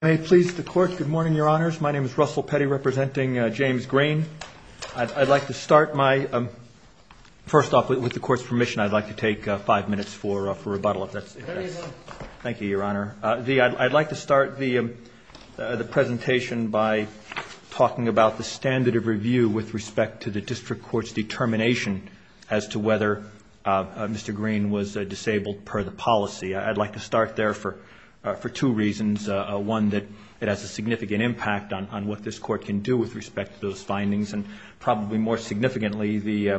I'd like to start the presentation by talking about the standard of review with respect to the District Court's determination as to whether Mr. Green was disabled per the policy. I'd like to start there for two reasons, one that it has a significant impact on what this Court can do with respect to those findings, and probably more significantly,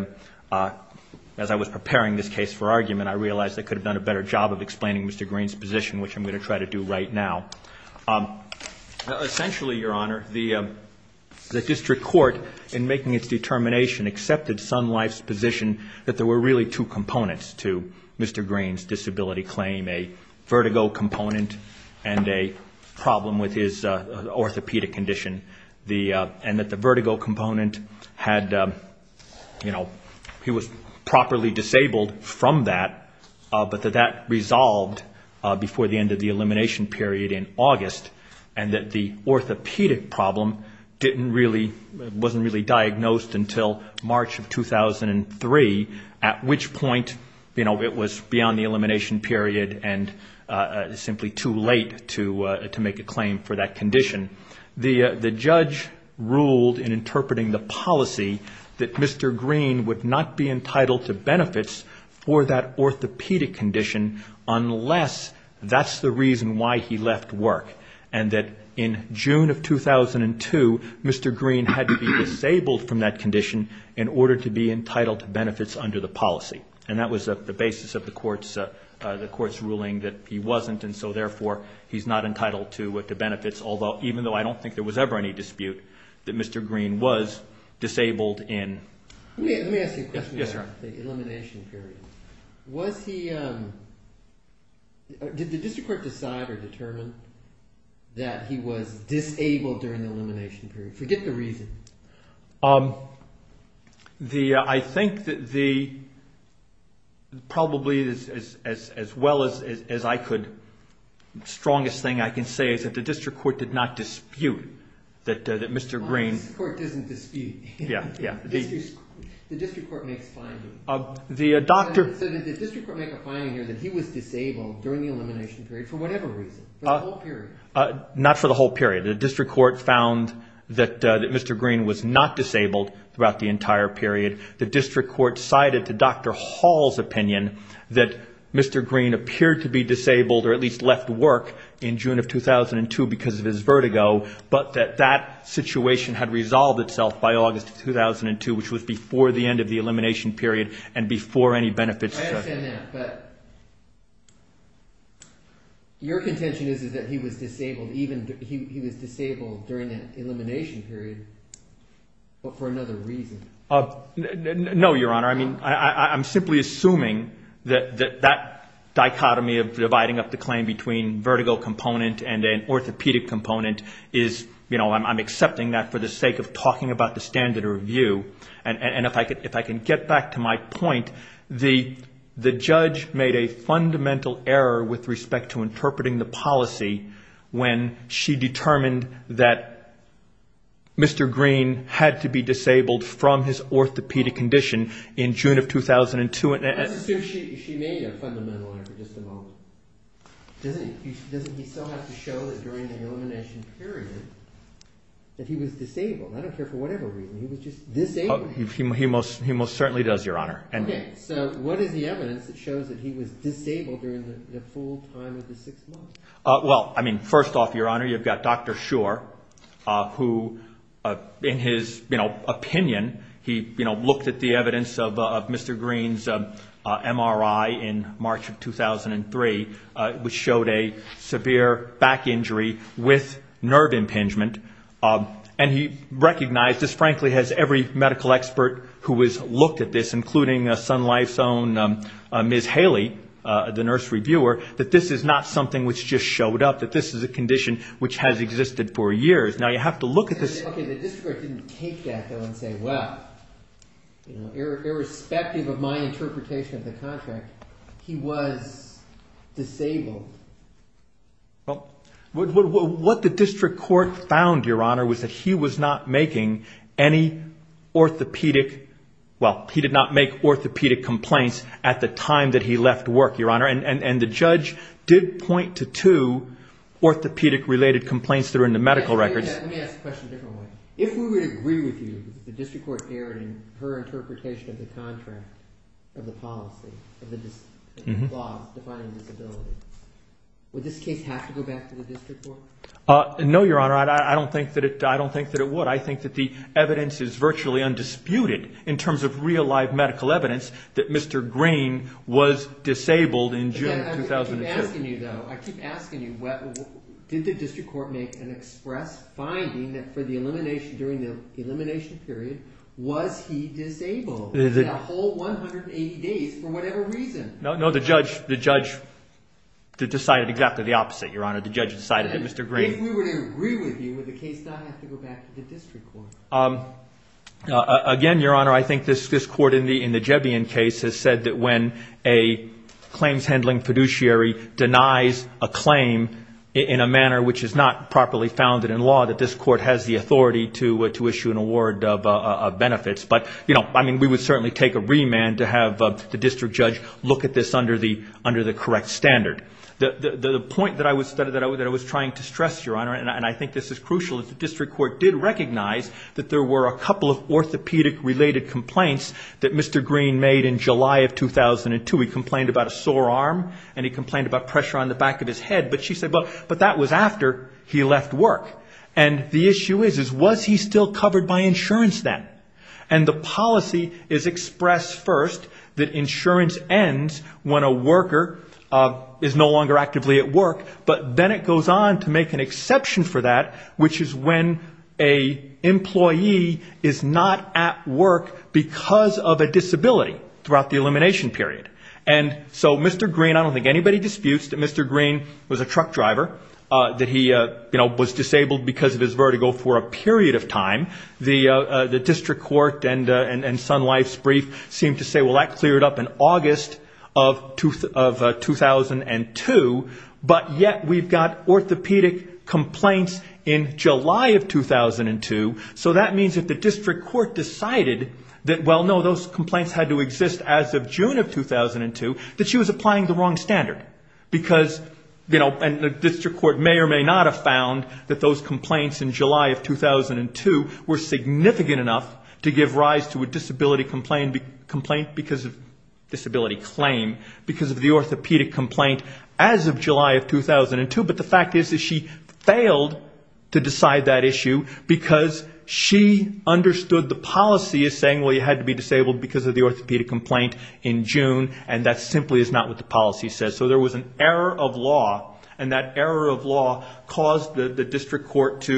as I was preparing this case for argument, I realized I could have done a better job of explaining Mr. Green's position, which I'm going to try to do right now. Essentially, Your Honor, the District Court, in making its determination, accepted Sun Mr. Green's disability claim, a vertigo component, and a problem with his orthopedic condition, and that the vertigo component had, you know, he was properly disabled from that, but that that resolved before the end of the elimination period in August, and that the orthopedic problem didn't really, wasn't really diagnosed until March of 2003, at which point, you know, it was beyond the elimination period and simply too late to make a claim for that condition. The judge ruled in interpreting the policy that Mr. Green would not be entitled to benefits for that orthopedic condition unless that's the reason why he left work, and that in June of 2002, Mr. Green had to be disabled from that condition in order to be entitled to benefits under the policy, and that was the basis of the court's ruling that he wasn't, and so, therefore, he's not entitled to benefits, although, even though I don't think there was ever any dispute that Mr. Green was disabled in. Let me ask you a question about the elimination period. Was he, did the district court decide or determine that he was disabled during the elimination period? Forget the reason. The, I think that the, probably as well as I could, strongest thing I can say is that the district court did not dispute that Mr. Green. The district court doesn't dispute. Yeah, yeah. The district court makes findings. The doctor... So, did the district court make a finding here that he was disabled during the elimination period for whatever reason, for the whole period? Not for the whole period. The district court found that Mr. Green was not disabled throughout the entire period. The district court cited to Dr. Hall's opinion that Mr. Green appeared to be disabled or at least left work in June of 2002 because of his vertigo, but that that situation had I understand that, but your contention is, is that he was disabled even, he was disabled during the elimination period, but for another reason. No, your honor. I mean, I'm simply assuming that that dichotomy of dividing up the claim between vertigo component and an orthopedic component is, you know, I'm accepting that for the sake of talking about the standard of review. And if I could, if I can get back to my point, the, the judge made a fundamental error with respect to interpreting the policy when she determined that Mr. Green had to be disabled from his orthopedic condition in June of 2002. Let's assume she made a fundamental error, just a moment. Doesn't he still have to show that during the elimination period that he was disabled? I don't care for whatever reason. He was just disabled. Oh, he, he most, he most certainly does, your honor. And so what is the evidence that shows that he was disabled during the full time of the six months? Well, I mean, first off, your honor, you've got Dr. Shore, who in his opinion, he looked at the evidence of Mr. Green's MRI in March of 2003, which showed a severe back injury with nerve impingement. And he recognized, this frankly has every medical expert who has looked at this, including Sun Life's own Ms. Haley, the nurse reviewer, that this is not something which just showed up, that this is a condition which has existed for years. Now you have to look at this. Okay, the district court didn't take that though and say, well, you know, irrespective of my interpretation of the contract, he was disabled. Well, what, what, what the district court found, your honor, was that he was not making any orthopedic, well, he did not make orthopedic complaints at the time that he left work, your honor. And, and, and the judge did point to two orthopedic related complaints that are in the medical records. Let me ask the question a different way. If we would agree with you that the district court erred in her interpretation of the contract, of the policy, of the laws defining disability, would this case have to go back to the district court? No, your honor. I don't think that it, I don't think that it would. I think that the evidence is virtually undisputed in terms of real life medical evidence that Mr. Green was disabled in June of 2002. I keep asking you though, I keep asking you, did the district court make an express finding that for the elimination, during the elimination period, was he disabled? In a whole 180 days for whatever reason. No, no, the judge, the judge decided exactly the opposite, your honor. The judge decided that Mr. Green. If we were to agree with you, would the case not have to go back to the district court? Again, your honor, I think this, this court in the, in the Jebbian case has said that when a claims handling fiduciary denies a claim in a manner which is not properly founded in law, that this court has the authority to, to issue an award of benefits. But, you know, I mean, we would certainly take a remand to have the district judge look at this under the, under the correct standard. The point that I was, that I was trying to stress, your honor, and I think this is crucial, is the district court did recognize that there were a couple of orthopedic related complaints that Mr. Green made in July of 2002. He complained about a sore arm and he complained about pressure on the back of his head. But she said, but that was after he left work. And the issue is, is was he still covered by insurance then? And the policy is expressed first that insurance ends when a worker is no longer actively at work. But then it goes on to make an exception for that, which is when a employee is not at work because of a disability throughout the elimination period. And so Mr. Green, I don't think anybody disputes that Mr. Green was a truck driver, that he, you know, was disabled because of his vertigo for a period of time. The district court and Sun Life's brief seem to say, well, that cleared up in August of 2002, but yet we've got orthopedic complaints in July of 2002. So that means if the district court decided that, well, no, those complaints had to exist as of June of 2002, that she was applying the wrong standard because, you know, and the district court may or may not have found that those complaints in July of 2002 were significant enough to give rise to a disability complaint because of disability claim, because of the orthopedic complaint as of July of 2002. But the fact is that she failed to decide that issue because she understood the policy as saying, well, you had to be disabled because of the orthopedic complaint in June, and that simply is not what the policy says. So there was an error of law, and that error of law caused the district court to,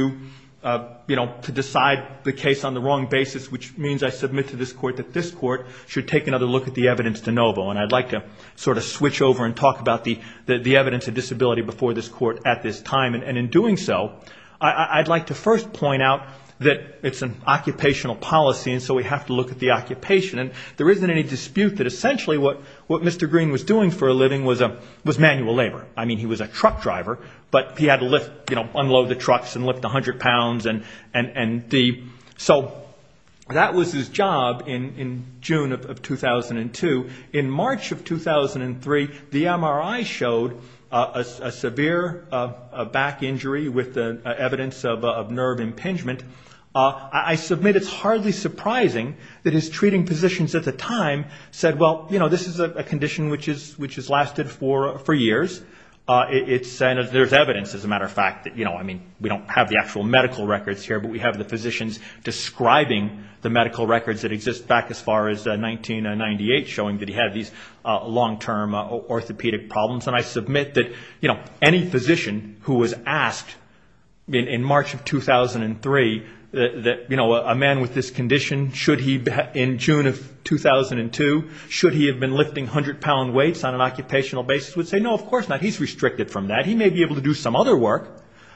you know, to decide the case on the wrong basis, which means I submit to this court that this court should take another look at the evidence de novo. And I'd like to sort of switch over and talk about the evidence of disability before this court at this time. And in doing so, I'd like to first point out that it's an occupational policy, and so we have to look at the occupation. And there isn't any dispute that essentially what Mr. Green was doing for a living was manual labor. I mean, he was a truck driver, but he had to lift, you know, unload the trucks and lift 100 pounds. And so that was his job in June of 2002. In March of 2003, the MRI showed a severe back injury with evidence of nerve impingement. I submit it's hardly surprising that his treating physicians at the time said, well, you know, this is a condition which has lasted for years. And there's evidence, as a matter of fact, that, you know, I mean, we don't have the actual medical records here, but we have the physicians describing the medical records that exist back as far as 1998, showing that he had these long-term orthopedic problems. And I submit that, you know, any physician who was asked in March of 2003 that, you know, a man with this condition, should he, in June of 2002, should he have been lifting 100-pound weights on an occupational basis would say, no, of course not. He's restricted from that. He may be able to do some other work,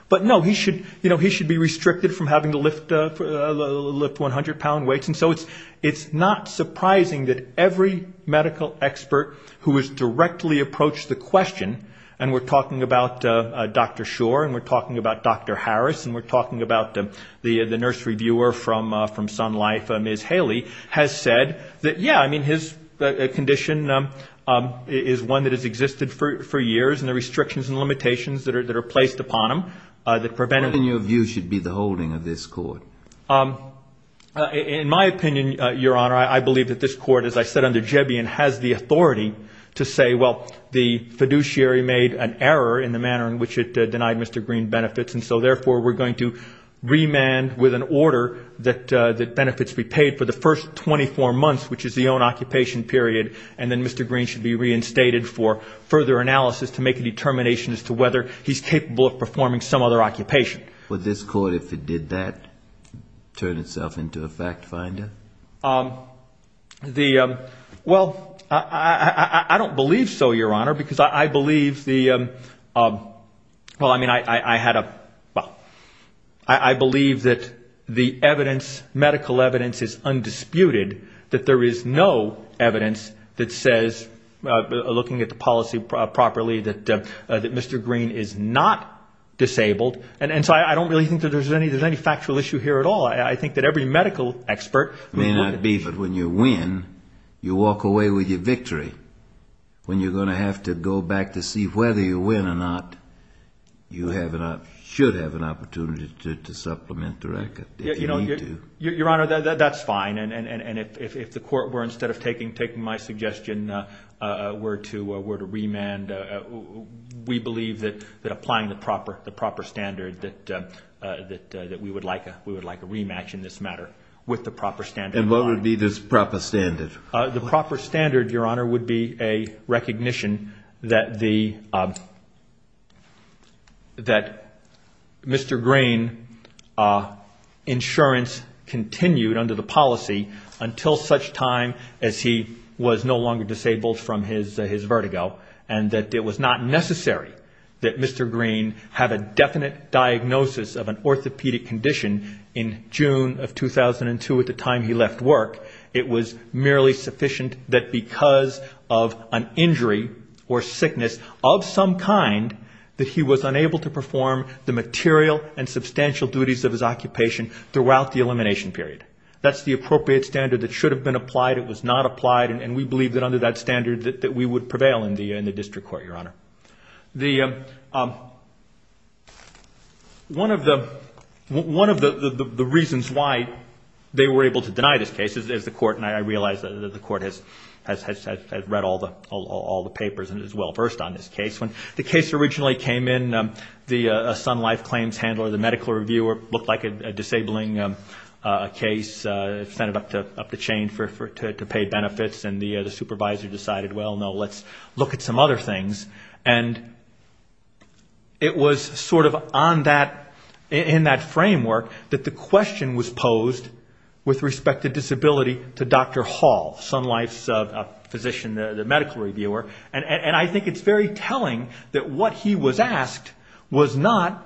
but no, he should, you know, he should be restricted from having to lift 100-pound weights. And so it's not surprising that every medical expert who has directly approached the question, and we're talking about Dr. Schor and we're talking about Dr. Harris and we're talking about the nurse reviewer from Sun Life, Ms. Haley, has said that, yeah, I mean, his condition is one that has existed for years and the restrictions and limitations that are placed upon him that prevent him. What, in your view, should be the holding of this court? In my opinion, Your Honor, I believe that this court, as I said under Jebbian, has the authority to say, well, the fiduciary made an error in the manner in which it denied Mr. Green benefits, and so, therefore, we're going to remand with an order that benefits be paid for the first 24 months, which is the own occupation period, and then Mr. Green should be reinstated for further analysis to make a determination as to whether he's capable of performing some other occupation. Would this court, if it did that, turn itself into a fact finder? Well, I don't believe so, Your Honor, because I believe the, well, I mean, I had a, well, I believe that the evidence, medical evidence is undisputed, that there is no evidence that says, looking at the policy properly, that Mr. Green is not disabled, and so I don't really think that there's any factual issue here at all. I think that every medical expert may not be. But when you win, you walk away with your victory. When you're going to have to go back to see whether you win or not, you should have an opportunity to supplement the record if you need to. Your Honor, that's fine, and if the court were, instead of taking my suggestion, were to remand, we believe that applying the proper standard, that we would like a rematch in this matter with the proper standard. And what would be this proper standard? The proper standard, Your Honor, would be a recognition that the, that Mr. Green insurance continued under the policy until such time as he was no longer disabled from his vertigo, and that it was not necessary that Mr. Green have a definite diagnosis of an orthopedic condition in June of 2002 at the time he left work. It was merely sufficient that because of an injury or sickness of some kind, that he was unable to perform the material and substantial duties of his occupation throughout the elimination period. That's the appropriate standard that should have been applied. It was not applied, and we believe that under that standard that we would prevail in the district court, Your Honor. The, one of the, one of the reasons why they were able to deny this case is the court, and I realize that the court has read all the papers and is well-versed on this case. When the case originally came in, the Sun Life Claims Handler, the medical reviewer, looked like a disabling case, sent it up the chain to pay benefits, and the supervisor decided, well, no, let's look at some other things. And it was sort of on that, in that framework that the question was posed with respect to disability to Dr. Hall, Sun Life's physician, the medical reviewer, and I think it's very telling that what he was asked was not,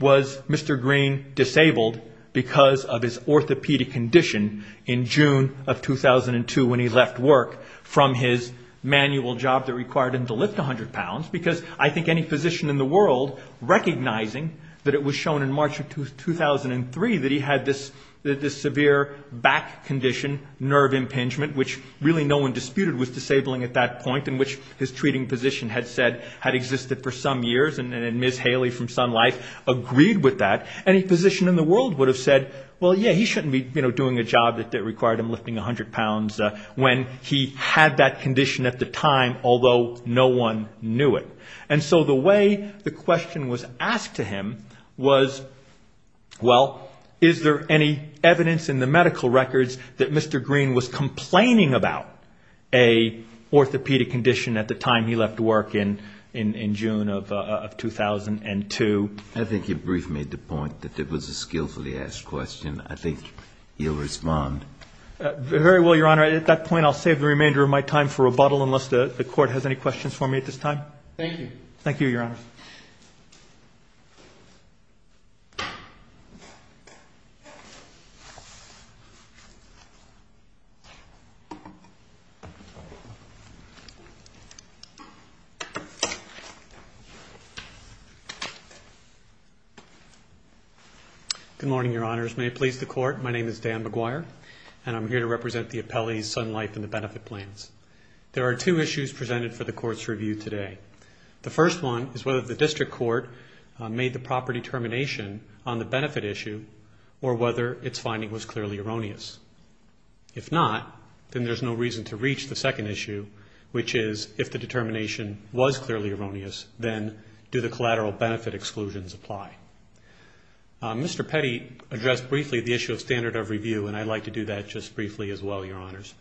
was Mr. Green disabled because of his orthopedic condition in June of 2002 when he left work from his manual job that required him to lift 100 pounds, because I think any physician in the world recognizing that it was shown in March of 2003 that he had this severe back condition, nerve impingement, which really no one disputed was disabling at that point, in which his treating physician had said had existed for some years, and Ms. Haley from Sun Life agreed with that. Any physician in the world would have said, well, yeah, he shouldn't be doing a job that required him lifting 100 pounds when he had that condition at the time, although no one knew it. And so the way the question was asked to him was, well, is there any evidence in the medical records that Mr. Green was complaining about a orthopedic condition at the time he left work in June of 2002? I think your brief made the point that it was a skillfully asked question. I think you'll respond. Very well, Your Honor. At that point, I'll save the remainder of my time for rebuttal unless the Court has any questions for me at this time. Thank you. Thank you, Your Honor. Good morning, Your Honors. May it please the Court, my name is Dan McGuire, and I'm here to represent the appellees, Sun Life and the benefit claims. There are two issues presented for the Court's review today. The first one is whether the district court made the proper determination on the benefit issue or whether its finding was clearly erroneous. If not, then there's no reason to reach the second issue, which is if the determination was clearly erroneous, then do the collateral benefit exclusions apply? Mr. Petty addressed briefly the issue of standard of review, and I'd like to do that just briefly as well, Your Honors.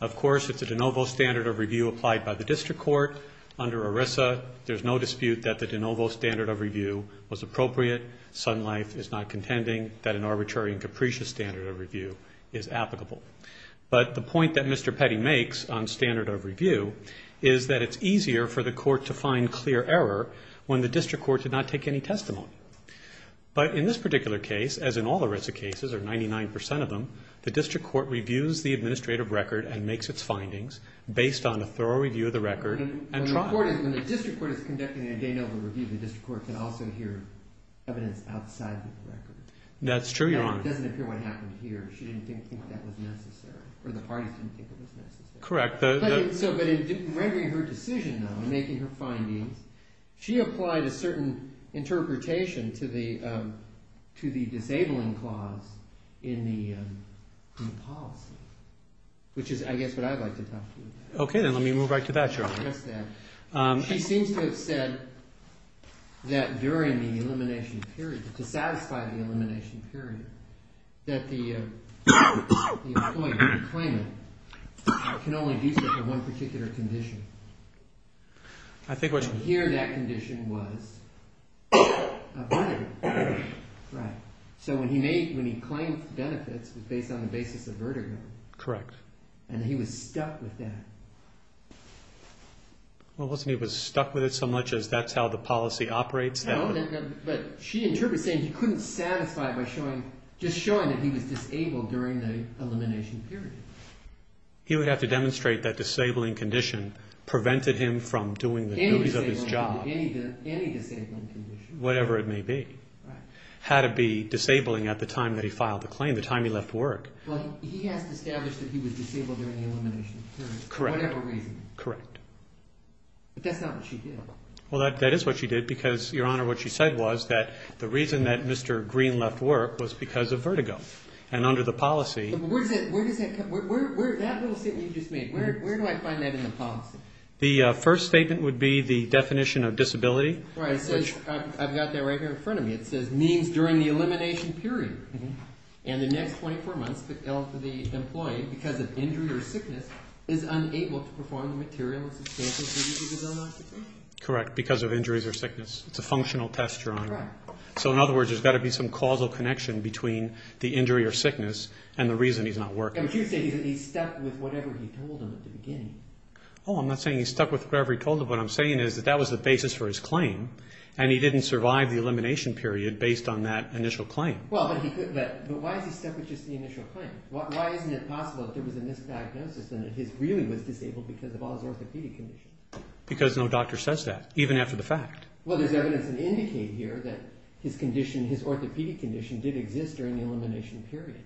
Of course, it's a de novo standard of review applied by the district court under ERISA. There's no dispute that the de novo standard of review was appropriate. Sun Life is not contending that an arbitrary and capricious standard of review is applicable. But the point that Mr. Petty makes on standard of review is that it's easier for the court to find clear error when the district court did not take any testimony. But in this particular case, as in all ERISA cases, or 99% of them, the district court reviews the administrative record and makes its findings based on a thorough review of the record. When the district court is conducting a de novo review, the district court can also hear evidence outside of the record. That's true, Your Honor. It doesn't appear what happened here. She didn't think that was necessary, or the parties didn't think it was necessary. Correct. But in rendering her decision, though, in making her findings, she applied a certain interpretation to the disabling clause in the policy, which is, I guess, what I'd like to talk to you about. Okay, then let me move right to that, Your Honor. She seems to have said that during the elimination period, to satisfy the elimination period, that the employer, the claimant, can only do so for one particular condition. Here, that condition was a vertigo. Right. So when he claimed benefits, it was based on the basis of vertigo. Correct. And he was stuck with that. Well, wasn't he stuck with it so much that that's how the policy operates? No, but she interprets it as saying he couldn't satisfy it by just showing that he was disabled during the elimination period. He would have to demonstrate that disabling condition prevented him from doing the duties of his job. Any disabling condition. Whatever it may be. Right. Had to be disabling at the time that he filed the claim, the time he left work. Well, he has to establish that he was disabled during the elimination period. Correct. For whatever reason. Correct. But that's not what she did. Well, that is what she did because, Your Honor, what she said was that the reason that Mr. Green left work was because of vertigo. And under the policy. Where does that come from? That little statement you just made, where do I find that in the policy? The first statement would be the definition of disability. Right. I've got that right here in front of me. It says means during the elimination period. And the next 24 months, the employee, because of injury or sickness, is unable to perform the material and substantial duties of his own occupation. Correct. Because of injuries or sickness. It's a functional test, Your Honor. Correct. So, in other words, there's got to be some causal connection between the injury or sickness and the reason he's not working. But you say that he stuck with whatever he told him at the beginning. Oh, I'm not saying he stuck with whatever he told him. What I'm saying is that that was the basis for his claim, and he didn't survive the elimination period based on that initial claim. But why is he stuck with just the initial claim? Why isn't it possible that there was a misdiagnosis and that he really was disabled because of all his orthopedic conditions? Because no doctor says that, even after the fact. Well, there's evidence to indicate here that his condition, his orthopedic condition, did exist during the elimination period.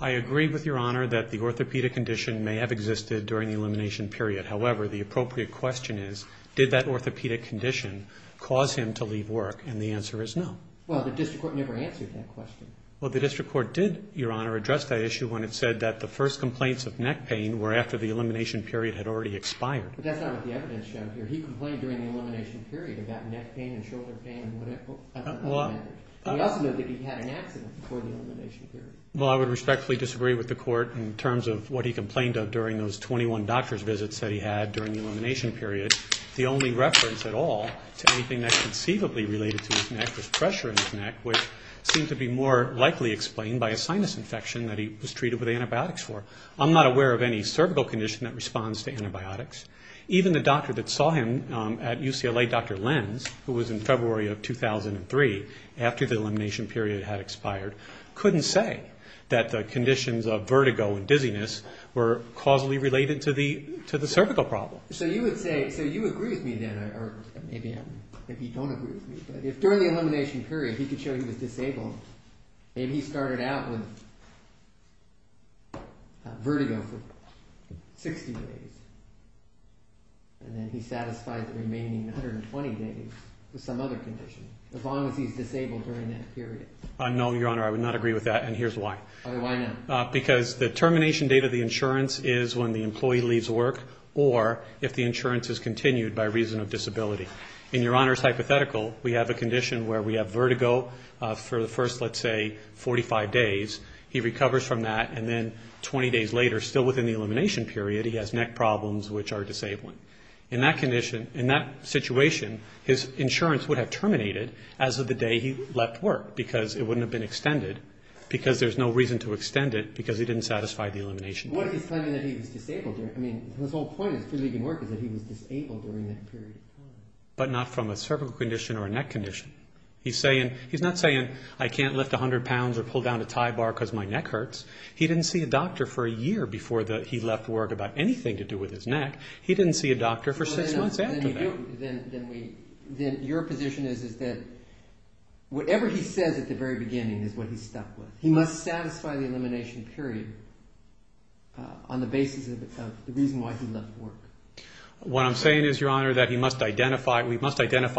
I agree with Your Honor that the orthopedic condition may have existed during the elimination period. However, the appropriate question is, did that orthopedic condition cause him to leave work? And the answer is no. Well, the district court never answered that question. Well, the district court did, Your Honor, address that issue when it said that the first complaints of neck pain were after the elimination period had already expired. But that's not what the evidence showed here. He complained during the elimination period about neck pain and shoulder pain and whatever. He also noted that he had an accident before the elimination period. Well, I would respectfully disagree with the court in terms of what he complained of during those 21 doctor's visits that he had during the elimination period. The only reference at all to anything that's conceivably related to his neck was pressure in his neck, which seemed to be more likely explained by a sinus infection that he was treated with antibiotics for. I'm not aware of any cervical condition that responds to antibiotics. Even the doctor that saw him at UCLA, Dr. Lenz, who was in February of 2003 after the elimination period had expired, couldn't say that the conditions of vertigo and dizziness were causally related to the cervical problem. So you would say, so you agree with me then, or maybe you don't agree with me, but if during the elimination period he could show he was disabled, maybe he started out with vertigo for 60 days and then he satisfied the remaining 120 days with some other condition, as long as he's disabled during that period. No, Your Honor, I would not agree with that, and here's why. Why not? Because the termination date of the insurance is when the employee leaves work or if the insurance is continued by reason of disability. In Your Honor's hypothetical, we have a condition where we have vertigo for the first, let's say, 45 days. He recovers from that, and then 20 days later, still within the elimination period, he has neck problems which are disabling. In that condition, in that situation, his insurance would have terminated as of the day he left work because it wouldn't have been extended because there's no reason to extend it because he didn't satisfy the elimination period. But what if he's claiming that he was disabled? I mean, his whole point in leaving work is that he was disabled during that period of time. But not from a cervical condition or a neck condition. He's not saying, I can't lift 100 pounds or pull down a tie bar because my neck hurts. He didn't see a doctor for a year before he left work about anything to do with his neck. He didn't see a doctor for six months after that. Then your position is that whatever he says at the very beginning is what he's stuck with. He must satisfy the elimination period on the basis of the reason why he left work. What I'm saying is, Your Honor, that we must identify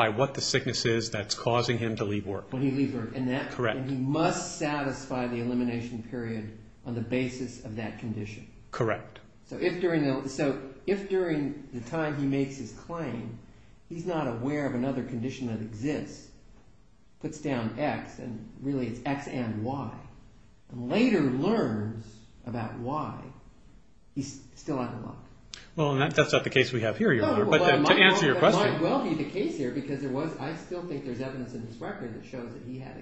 what the sickness is that's causing him to leave work. When he leaves work, and he must satisfy the elimination period on the basis of that condition. Correct. So if during the time he makes his claim, he's not aware of another condition that exists, puts down X, and really it's X and Y, and later learns about Y, he's still out of luck. Well, that's not the case we have here, Your Honor, but to answer your question. It might well be the case here because I still think there's evidence in his record that shows that he had,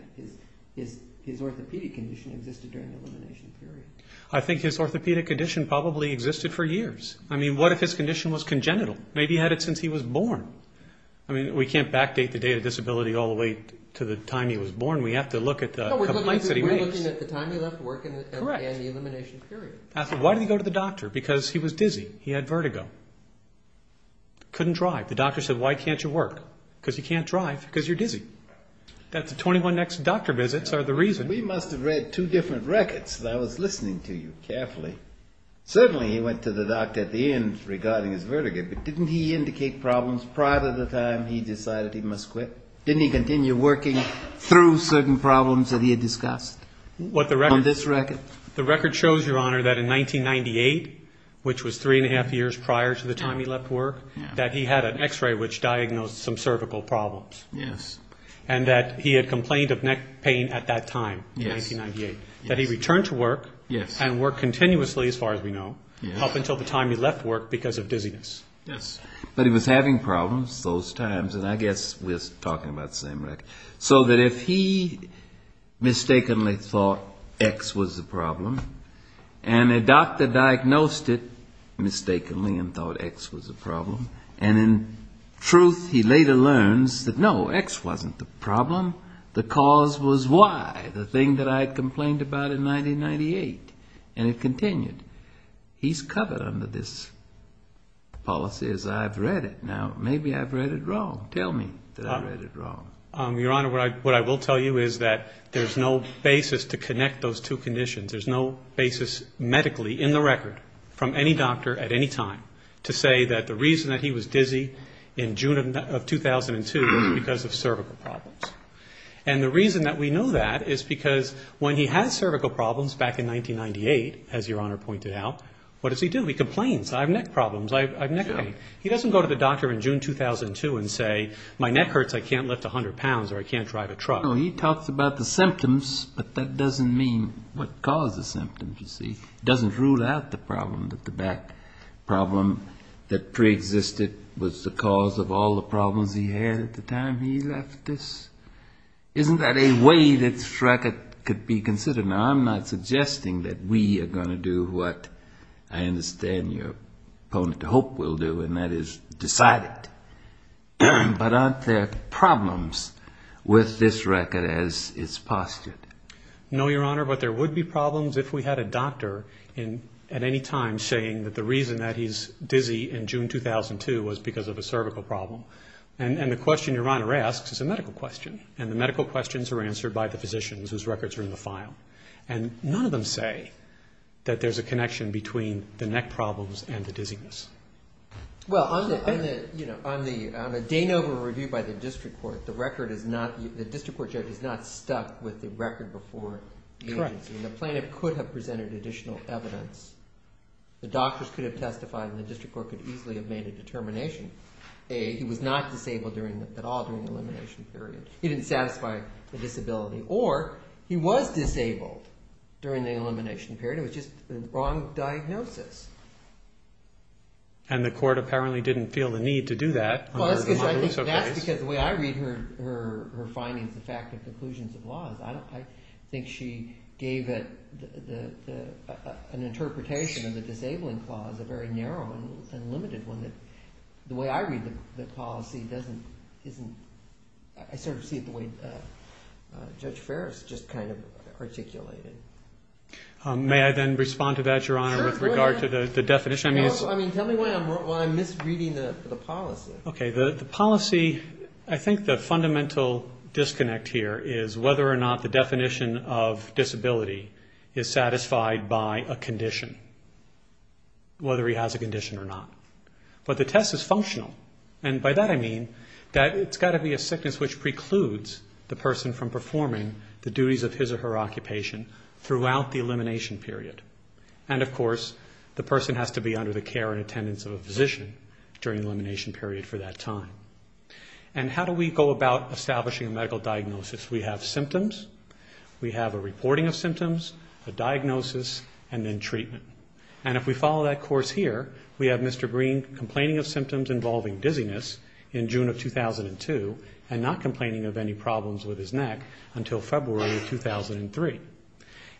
his orthopedic condition existed during the elimination period. I think his orthopedic condition probably existed for years. I mean, what if his condition was congenital? Maybe he had it since he was born. I mean, we can't backdate the day of disability all the way to the time he was born. We have to look at the complaints that he made. No, we're looking at the time he left work and the elimination period. Correct. Why did he go to the doctor? Because he was dizzy. He had vertigo. Couldn't drive. The doctor said, Why can't you work? Because you can't drive because you're dizzy. That's the 21 next doctor visits are the reason. We must have read two different records that I was listening to you carefully. Certainly he went to the doctor at the end regarding his vertigo, but didn't he indicate problems prior to the time he decided he must quit? Didn't he continue working through certain problems that he had discussed? On this record? The record shows, Your Honor, that in 1998, which was three and a half years prior to the time he left work, that he had an X-ray which diagnosed some cervical problems. Yes. Yes. That he returned to work and worked continuously, as far as we know, up until the time he left work because of dizziness. Yes. But he was having problems those times, and I guess we're talking about the same record. So that if he mistakenly thought X was the problem, and a doctor diagnosed it mistakenly and thought X was the problem, and in truth he later learns that, No, X wasn't the problem. The cause was Y, the thing that I complained about in 1998. And it continued. He's covered under this policy as I've read it. Now, maybe I've read it wrong. Tell me that I've read it wrong. Your Honor, what I will tell you is that there's no basis to connect those two conditions. There's no basis medically in the record from any doctor at any time to say that the reason that he was dizzy in June of 2002 was because of cervical problems. And the reason that we know that is because when he has cervical problems back in 1998, as Your Honor pointed out, what does he do? He complains. I have neck problems. I have neck pain. He doesn't go to the doctor in June 2002 and say, My neck hurts. I can't lift 100 pounds or I can't drive a truck. No, he talks about the symptoms, but that doesn't mean what caused the symptoms, you see. It doesn't rule out the problem that the back problem that preexisted was the cause of all the problems he had at the time he left us. Isn't that a way that this record could be considered? Now, I'm not suggesting that we are going to do what I understand your opponent to hope we'll do, and that is decide it. But aren't there problems with this record as it's postured? No, Your Honor, but there would be problems if we had a doctor at any time saying that the reason that he's dizzy in June 2002 was because of a cervical problem. And the question Your Honor asks is a medical question, and the medical questions are answered by the physicians whose records are in the file. And none of them say that there's a connection between the neck problems and the dizziness. Well, on the Danova review by the district court, the district court judge is not stuck with the record before the agency. And the plaintiff could have presented additional evidence. The doctors could have testified and the district court could easily have made a determination. A, he was not disabled at all during the elimination period. He didn't satisfy the disability. Or he was disabled during the elimination period. It was just the wrong diagnosis. And the court apparently didn't feel the need to do that. Well, that's because the way I read her findings, the fact of conclusions of laws, I think she gave an interpretation of the disabling clause, a very narrow and limited one. The way I read the policy, I sort of see it the way Judge Ferris just kind of articulated. May I then respond to that, Your Honor, with regard to the definition? I mean, tell me why I'm misreading the policy. Okay. The policy, I think the fundamental disconnect here is whether or not the definition of disability is satisfied by a condition, whether he has a condition or not. But the test is functional. And by that I mean that it's got to be a sickness which precludes the person from performing the duties of his or her occupation throughout the elimination period. And, of course, the person has to be under the care and attendance of a physician during the elimination period for that time. And how do we go about establishing a medical diagnosis? We have symptoms. We have a reporting of symptoms, a diagnosis, and then treatment. And if we follow that course here, we have Mr. Green complaining of symptoms involving dizziness in June of 2002 and not complaining of any problems with his neck until February of 2003.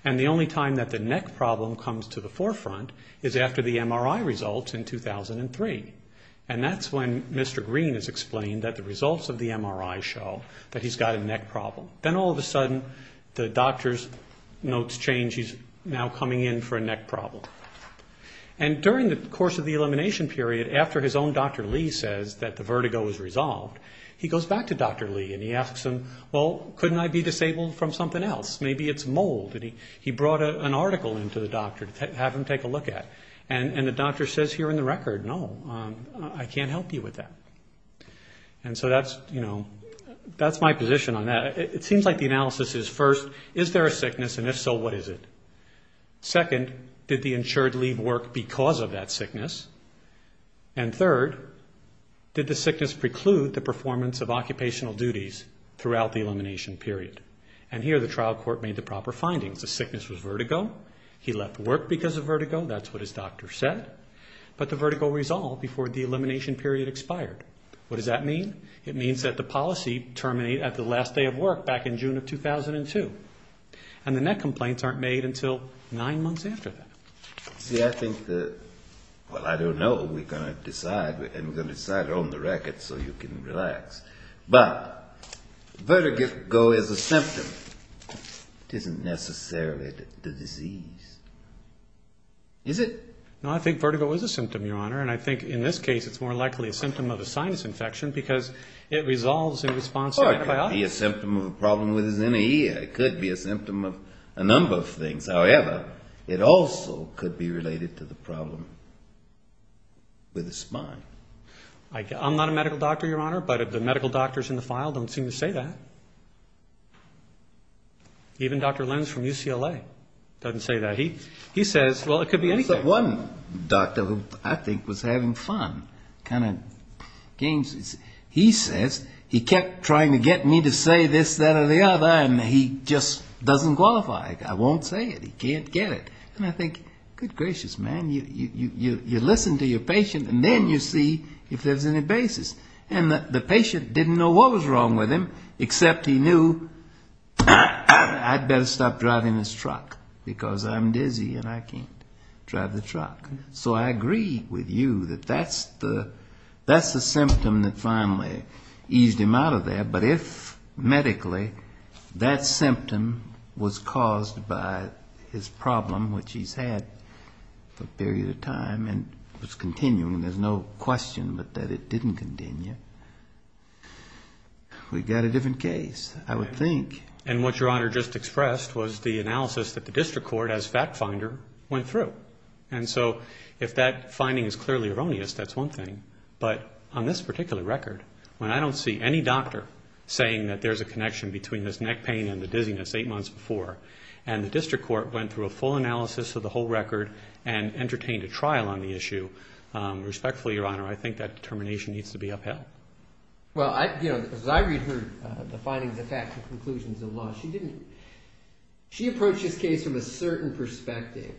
And the only time that the neck problem comes to the forefront is after the MRI results in 2003. And that's when Mr. Green is explained that the results of the MRI show that he's got a neck problem. Then all of a sudden the doctor's notes change. He's now coming in for a neck problem. And during the course of the elimination period, after his own Dr. Lee says that the vertigo is resolved, he goes back to Dr. Lee and he asks him, well, couldn't I be disabled from something else? Maybe it's mold. And he brought an article into the doctor to have him take a look at. And the doctor says here in the record, no, I can't help you with that. And so that's, you know, that's my position on that. It seems like the analysis is first, is there a sickness? And if so, what is it? Second, did the insured leave work because of that sickness? And third, did the sickness preclude the performance of occupational duties throughout the elimination period? And here the trial court made the proper findings. The sickness was vertigo. He left work because of vertigo. That's what his doctor said. But the vertigo resolved before the elimination period expired. What does that mean? It means that the policy terminated at the last day of work back in June of 2002. And the net complaints aren't made until nine months after that. See, I think that, well, I don't know. We're going to decide. And we're going to decide on the record so you can relax. But vertigo is a symptom. It isn't necessarily the disease. Is it? No, I think vertigo is a symptom, Your Honor. And I think in this case it's more likely a symptom of a sinus infection because it resolves in response to antibiotics. Or it could be a symptom of a problem with his inner ear. It could be a symptom of a number of things. However, it also could be related to the problem with his spine. I'm not a medical doctor, Your Honor, but the medical doctors in the file don't seem to say that. Even Dr. Lenz from UCLA doesn't say that. He says, well, it could be anything. There was one doctor who I think was having fun, kind of games. He says he kept trying to get me to say this, that, or the other, and he just doesn't qualify. I won't say it. He can't get it. And I think, good gracious, man, you listen to your patient and then you see if there's any basis. And the patient didn't know what was wrong with him, except he knew I'd better stop driving this truck because I'm dizzy and I can't drive the truck. So I agree with you that that's the symptom that finally eased him out of there. But if medically that symptom was caused by his problem, which he's had for a period of time and was continuing, there's no question but that it didn't continue, we've got a different case, I would think. And what Your Honor just expressed was the analysis that the district court as fact finder went through. And so if that finding is clearly erroneous, that's one thing. But on this particular record, when I don't see any doctor saying that there's a connection between this neck pain and the dizziness eight months before and the district court went through a full analysis of the whole record and entertained a trial on the issue, respectfully, Your Honor, I think that determination needs to be upheld. Well, as I read the findings of fact and conclusions of law, she approached this case from a certain perspective.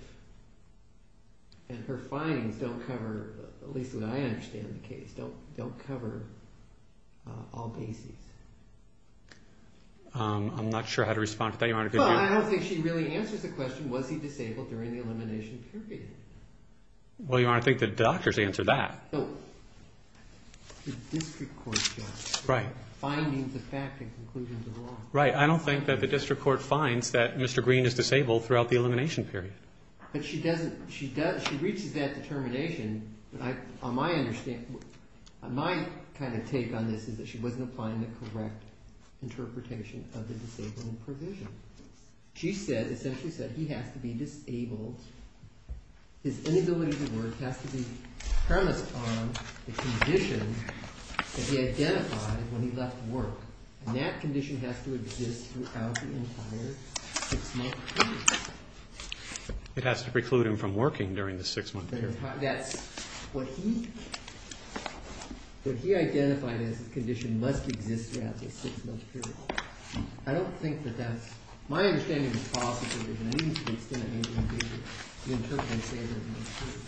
And her findings don't cover, at least as I understand the case, don't cover all bases. I'm not sure how to respond to that, Your Honor. Well, I don't think she really answers the question, was he disabled during the elimination period? Well, Your Honor, I think the doctors answered that. No. The district court, Your Honor. Right. Findings of fact and conclusions of law. Right. I don't think that the district court finds that Mr. Green is disabled throughout the elimination period. But she doesn't, she does, she reaches that determination. On my understanding, my kind of take on this is that she wasn't applying the correct interpretation of the disabling provision. She said, essentially said, he has to be disabled. His inability to work has to be premised on the condition that he identified when he left work. And that condition has to exist throughout the entire six-month period. It has to preclude him from working during the six-month period. That's what he, what he identified as a condition must exist throughout the six-month period. I don't think that that's, my understanding of the policy provision, I think it's going to be the interpretation of the disabling provision.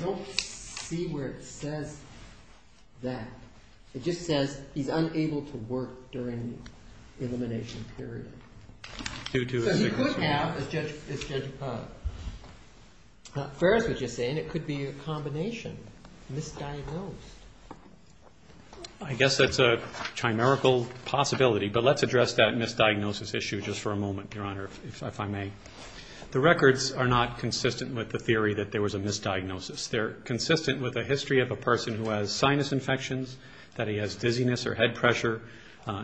I don't see where it says that. It just says he's unable to work during the elimination period. Due to a six-month period. So he could have, as Judge Ferris was just saying, it could be a combination, misdiagnosed. I guess that's a chimerical possibility, but let's address that misdiagnosis issue just for a moment, Your Honor, if I may. The records are not consistent with the theory that there was a misdiagnosis. They're consistent with a history of a person who has sinus infections, that he has dizziness or head pressure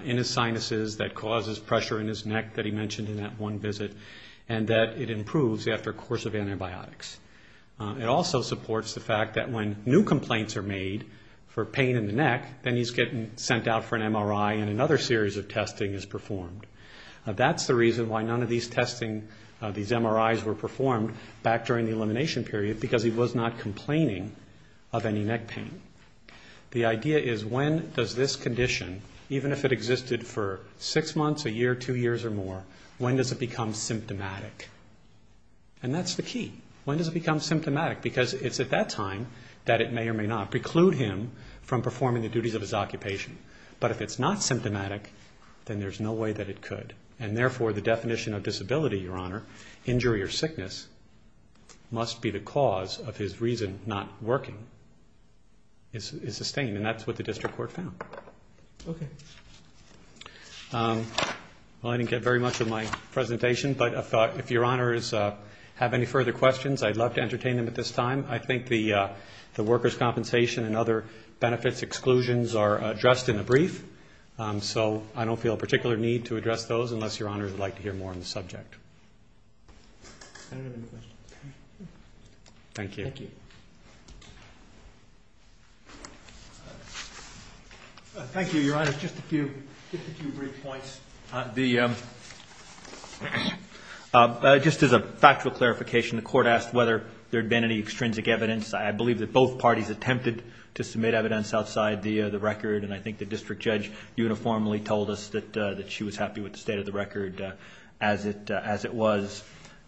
in his sinuses that causes pressure in his neck that he mentioned in that one visit, and that it improves after a course of antibiotics. It also supports the fact that when new complaints are made for pain in the neck, then he's getting sent out for an MRI and another series of testing is performed. That's the reason why none of these testing, these MRIs were performed back during the elimination period, because he was not complaining of any neck pain. The idea is when does this condition, even if it existed for six months, a year, two years or more, when does it become symptomatic? And that's the key. When does it become symptomatic? Because it's at that time that it may or may not preclude him from performing the duties of his occupation. But if it's not symptomatic, then there's no way that it could. And therefore, the definition of disability, Your Honor, injury or sickness, must be the cause of his reason not working is sustained, and that's what the district court found. Okay. Well, I didn't get very much of my presentation, but I thought if Your Honors have any further questions, I'd love to entertain them at this time. I think the workers' compensation and other benefits exclusions are addressed in the brief, so I don't feel a particular need to address those unless Your Honors would like to hear more on the subject. I don't have any questions. Thank you. Thank you. Thank you, Your Honors. Just a few brief points. Just as a factual clarification, the court asked whether there had been any extrinsic evidence. I believe that both parties attempted to submit evidence outside the record, and I think the district judge uniformly told us that she was happy with the state of the record as it was.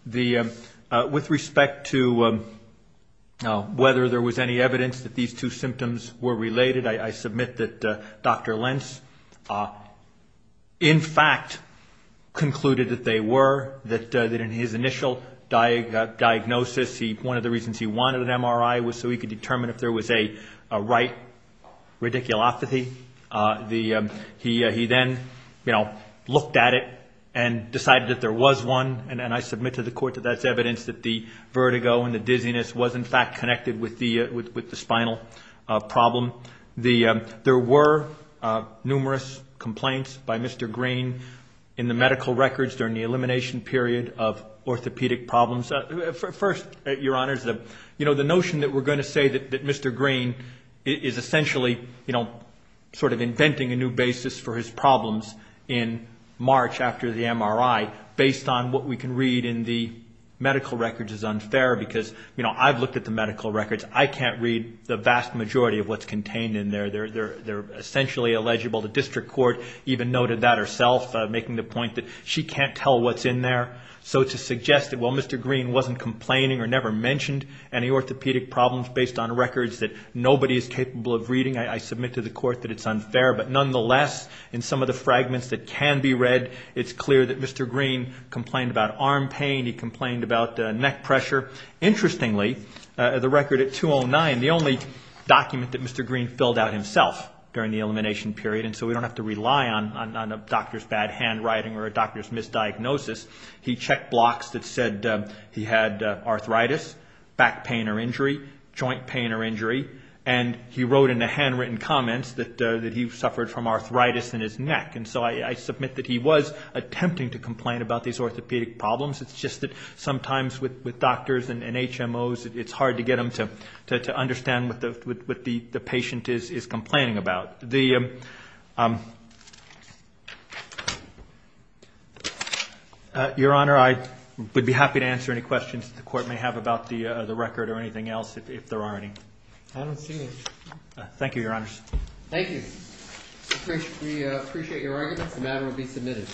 With respect to whether there was any evidence that these two symptoms were related, I submit that Dr. Lentz in fact concluded that they were, that in his initial diagnosis, one of the reasons he wanted an MRI was so he could determine if there was a right radiculopathy. He then, you know, looked at it and decided that there was one, and I submit to the court that that's evidence that the vertigo and the dizziness was in fact connected with the spinal problem. There were numerous complaints by Mr. Green in the medical records during the elimination period of orthopedic problems. First, Your Honors, you know, the notion that we're going to say that Mr. Green is essentially, you know, sort of inventing a new basis for his problems in March after the MRI, based on what we can read in the medical records is unfair because, you know, I've looked at the medical records. I can't read the vast majority of what's contained in there. They're essentially illegible. The district court even noted that herself, making the point that she can't tell what's in there. So to suggest that, well, Mr. Green wasn't complaining or never mentioned any orthopedic problems based on records that nobody is capable of reading, I submit to the court that it's unfair. But nonetheless, in some of the fragments that can be read, it's clear that Mr. Green complained about arm pain. He complained about neck pressure. Interestingly, the record at 209, the only document that Mr. Green filled out himself during the elimination period, and so we don't have to rely on a doctor's bad handwriting or a doctor's misdiagnosis, he checked blocks that said he had arthritis, back pain or injury, joint pain or injury, and he wrote in the handwritten comments that he suffered from arthritis in his neck. And so I submit that he was attempting to complain about these orthopedic problems. It's just that sometimes with doctors and HMOs, it's hard to get them to understand what the patient is complaining about. Your Honor, I would be happy to answer any questions the court may have about the record or anything else if there are any. I don't see any. Thank you, Your Honors. Thank you. We appreciate your arguments. The matter will be submitted.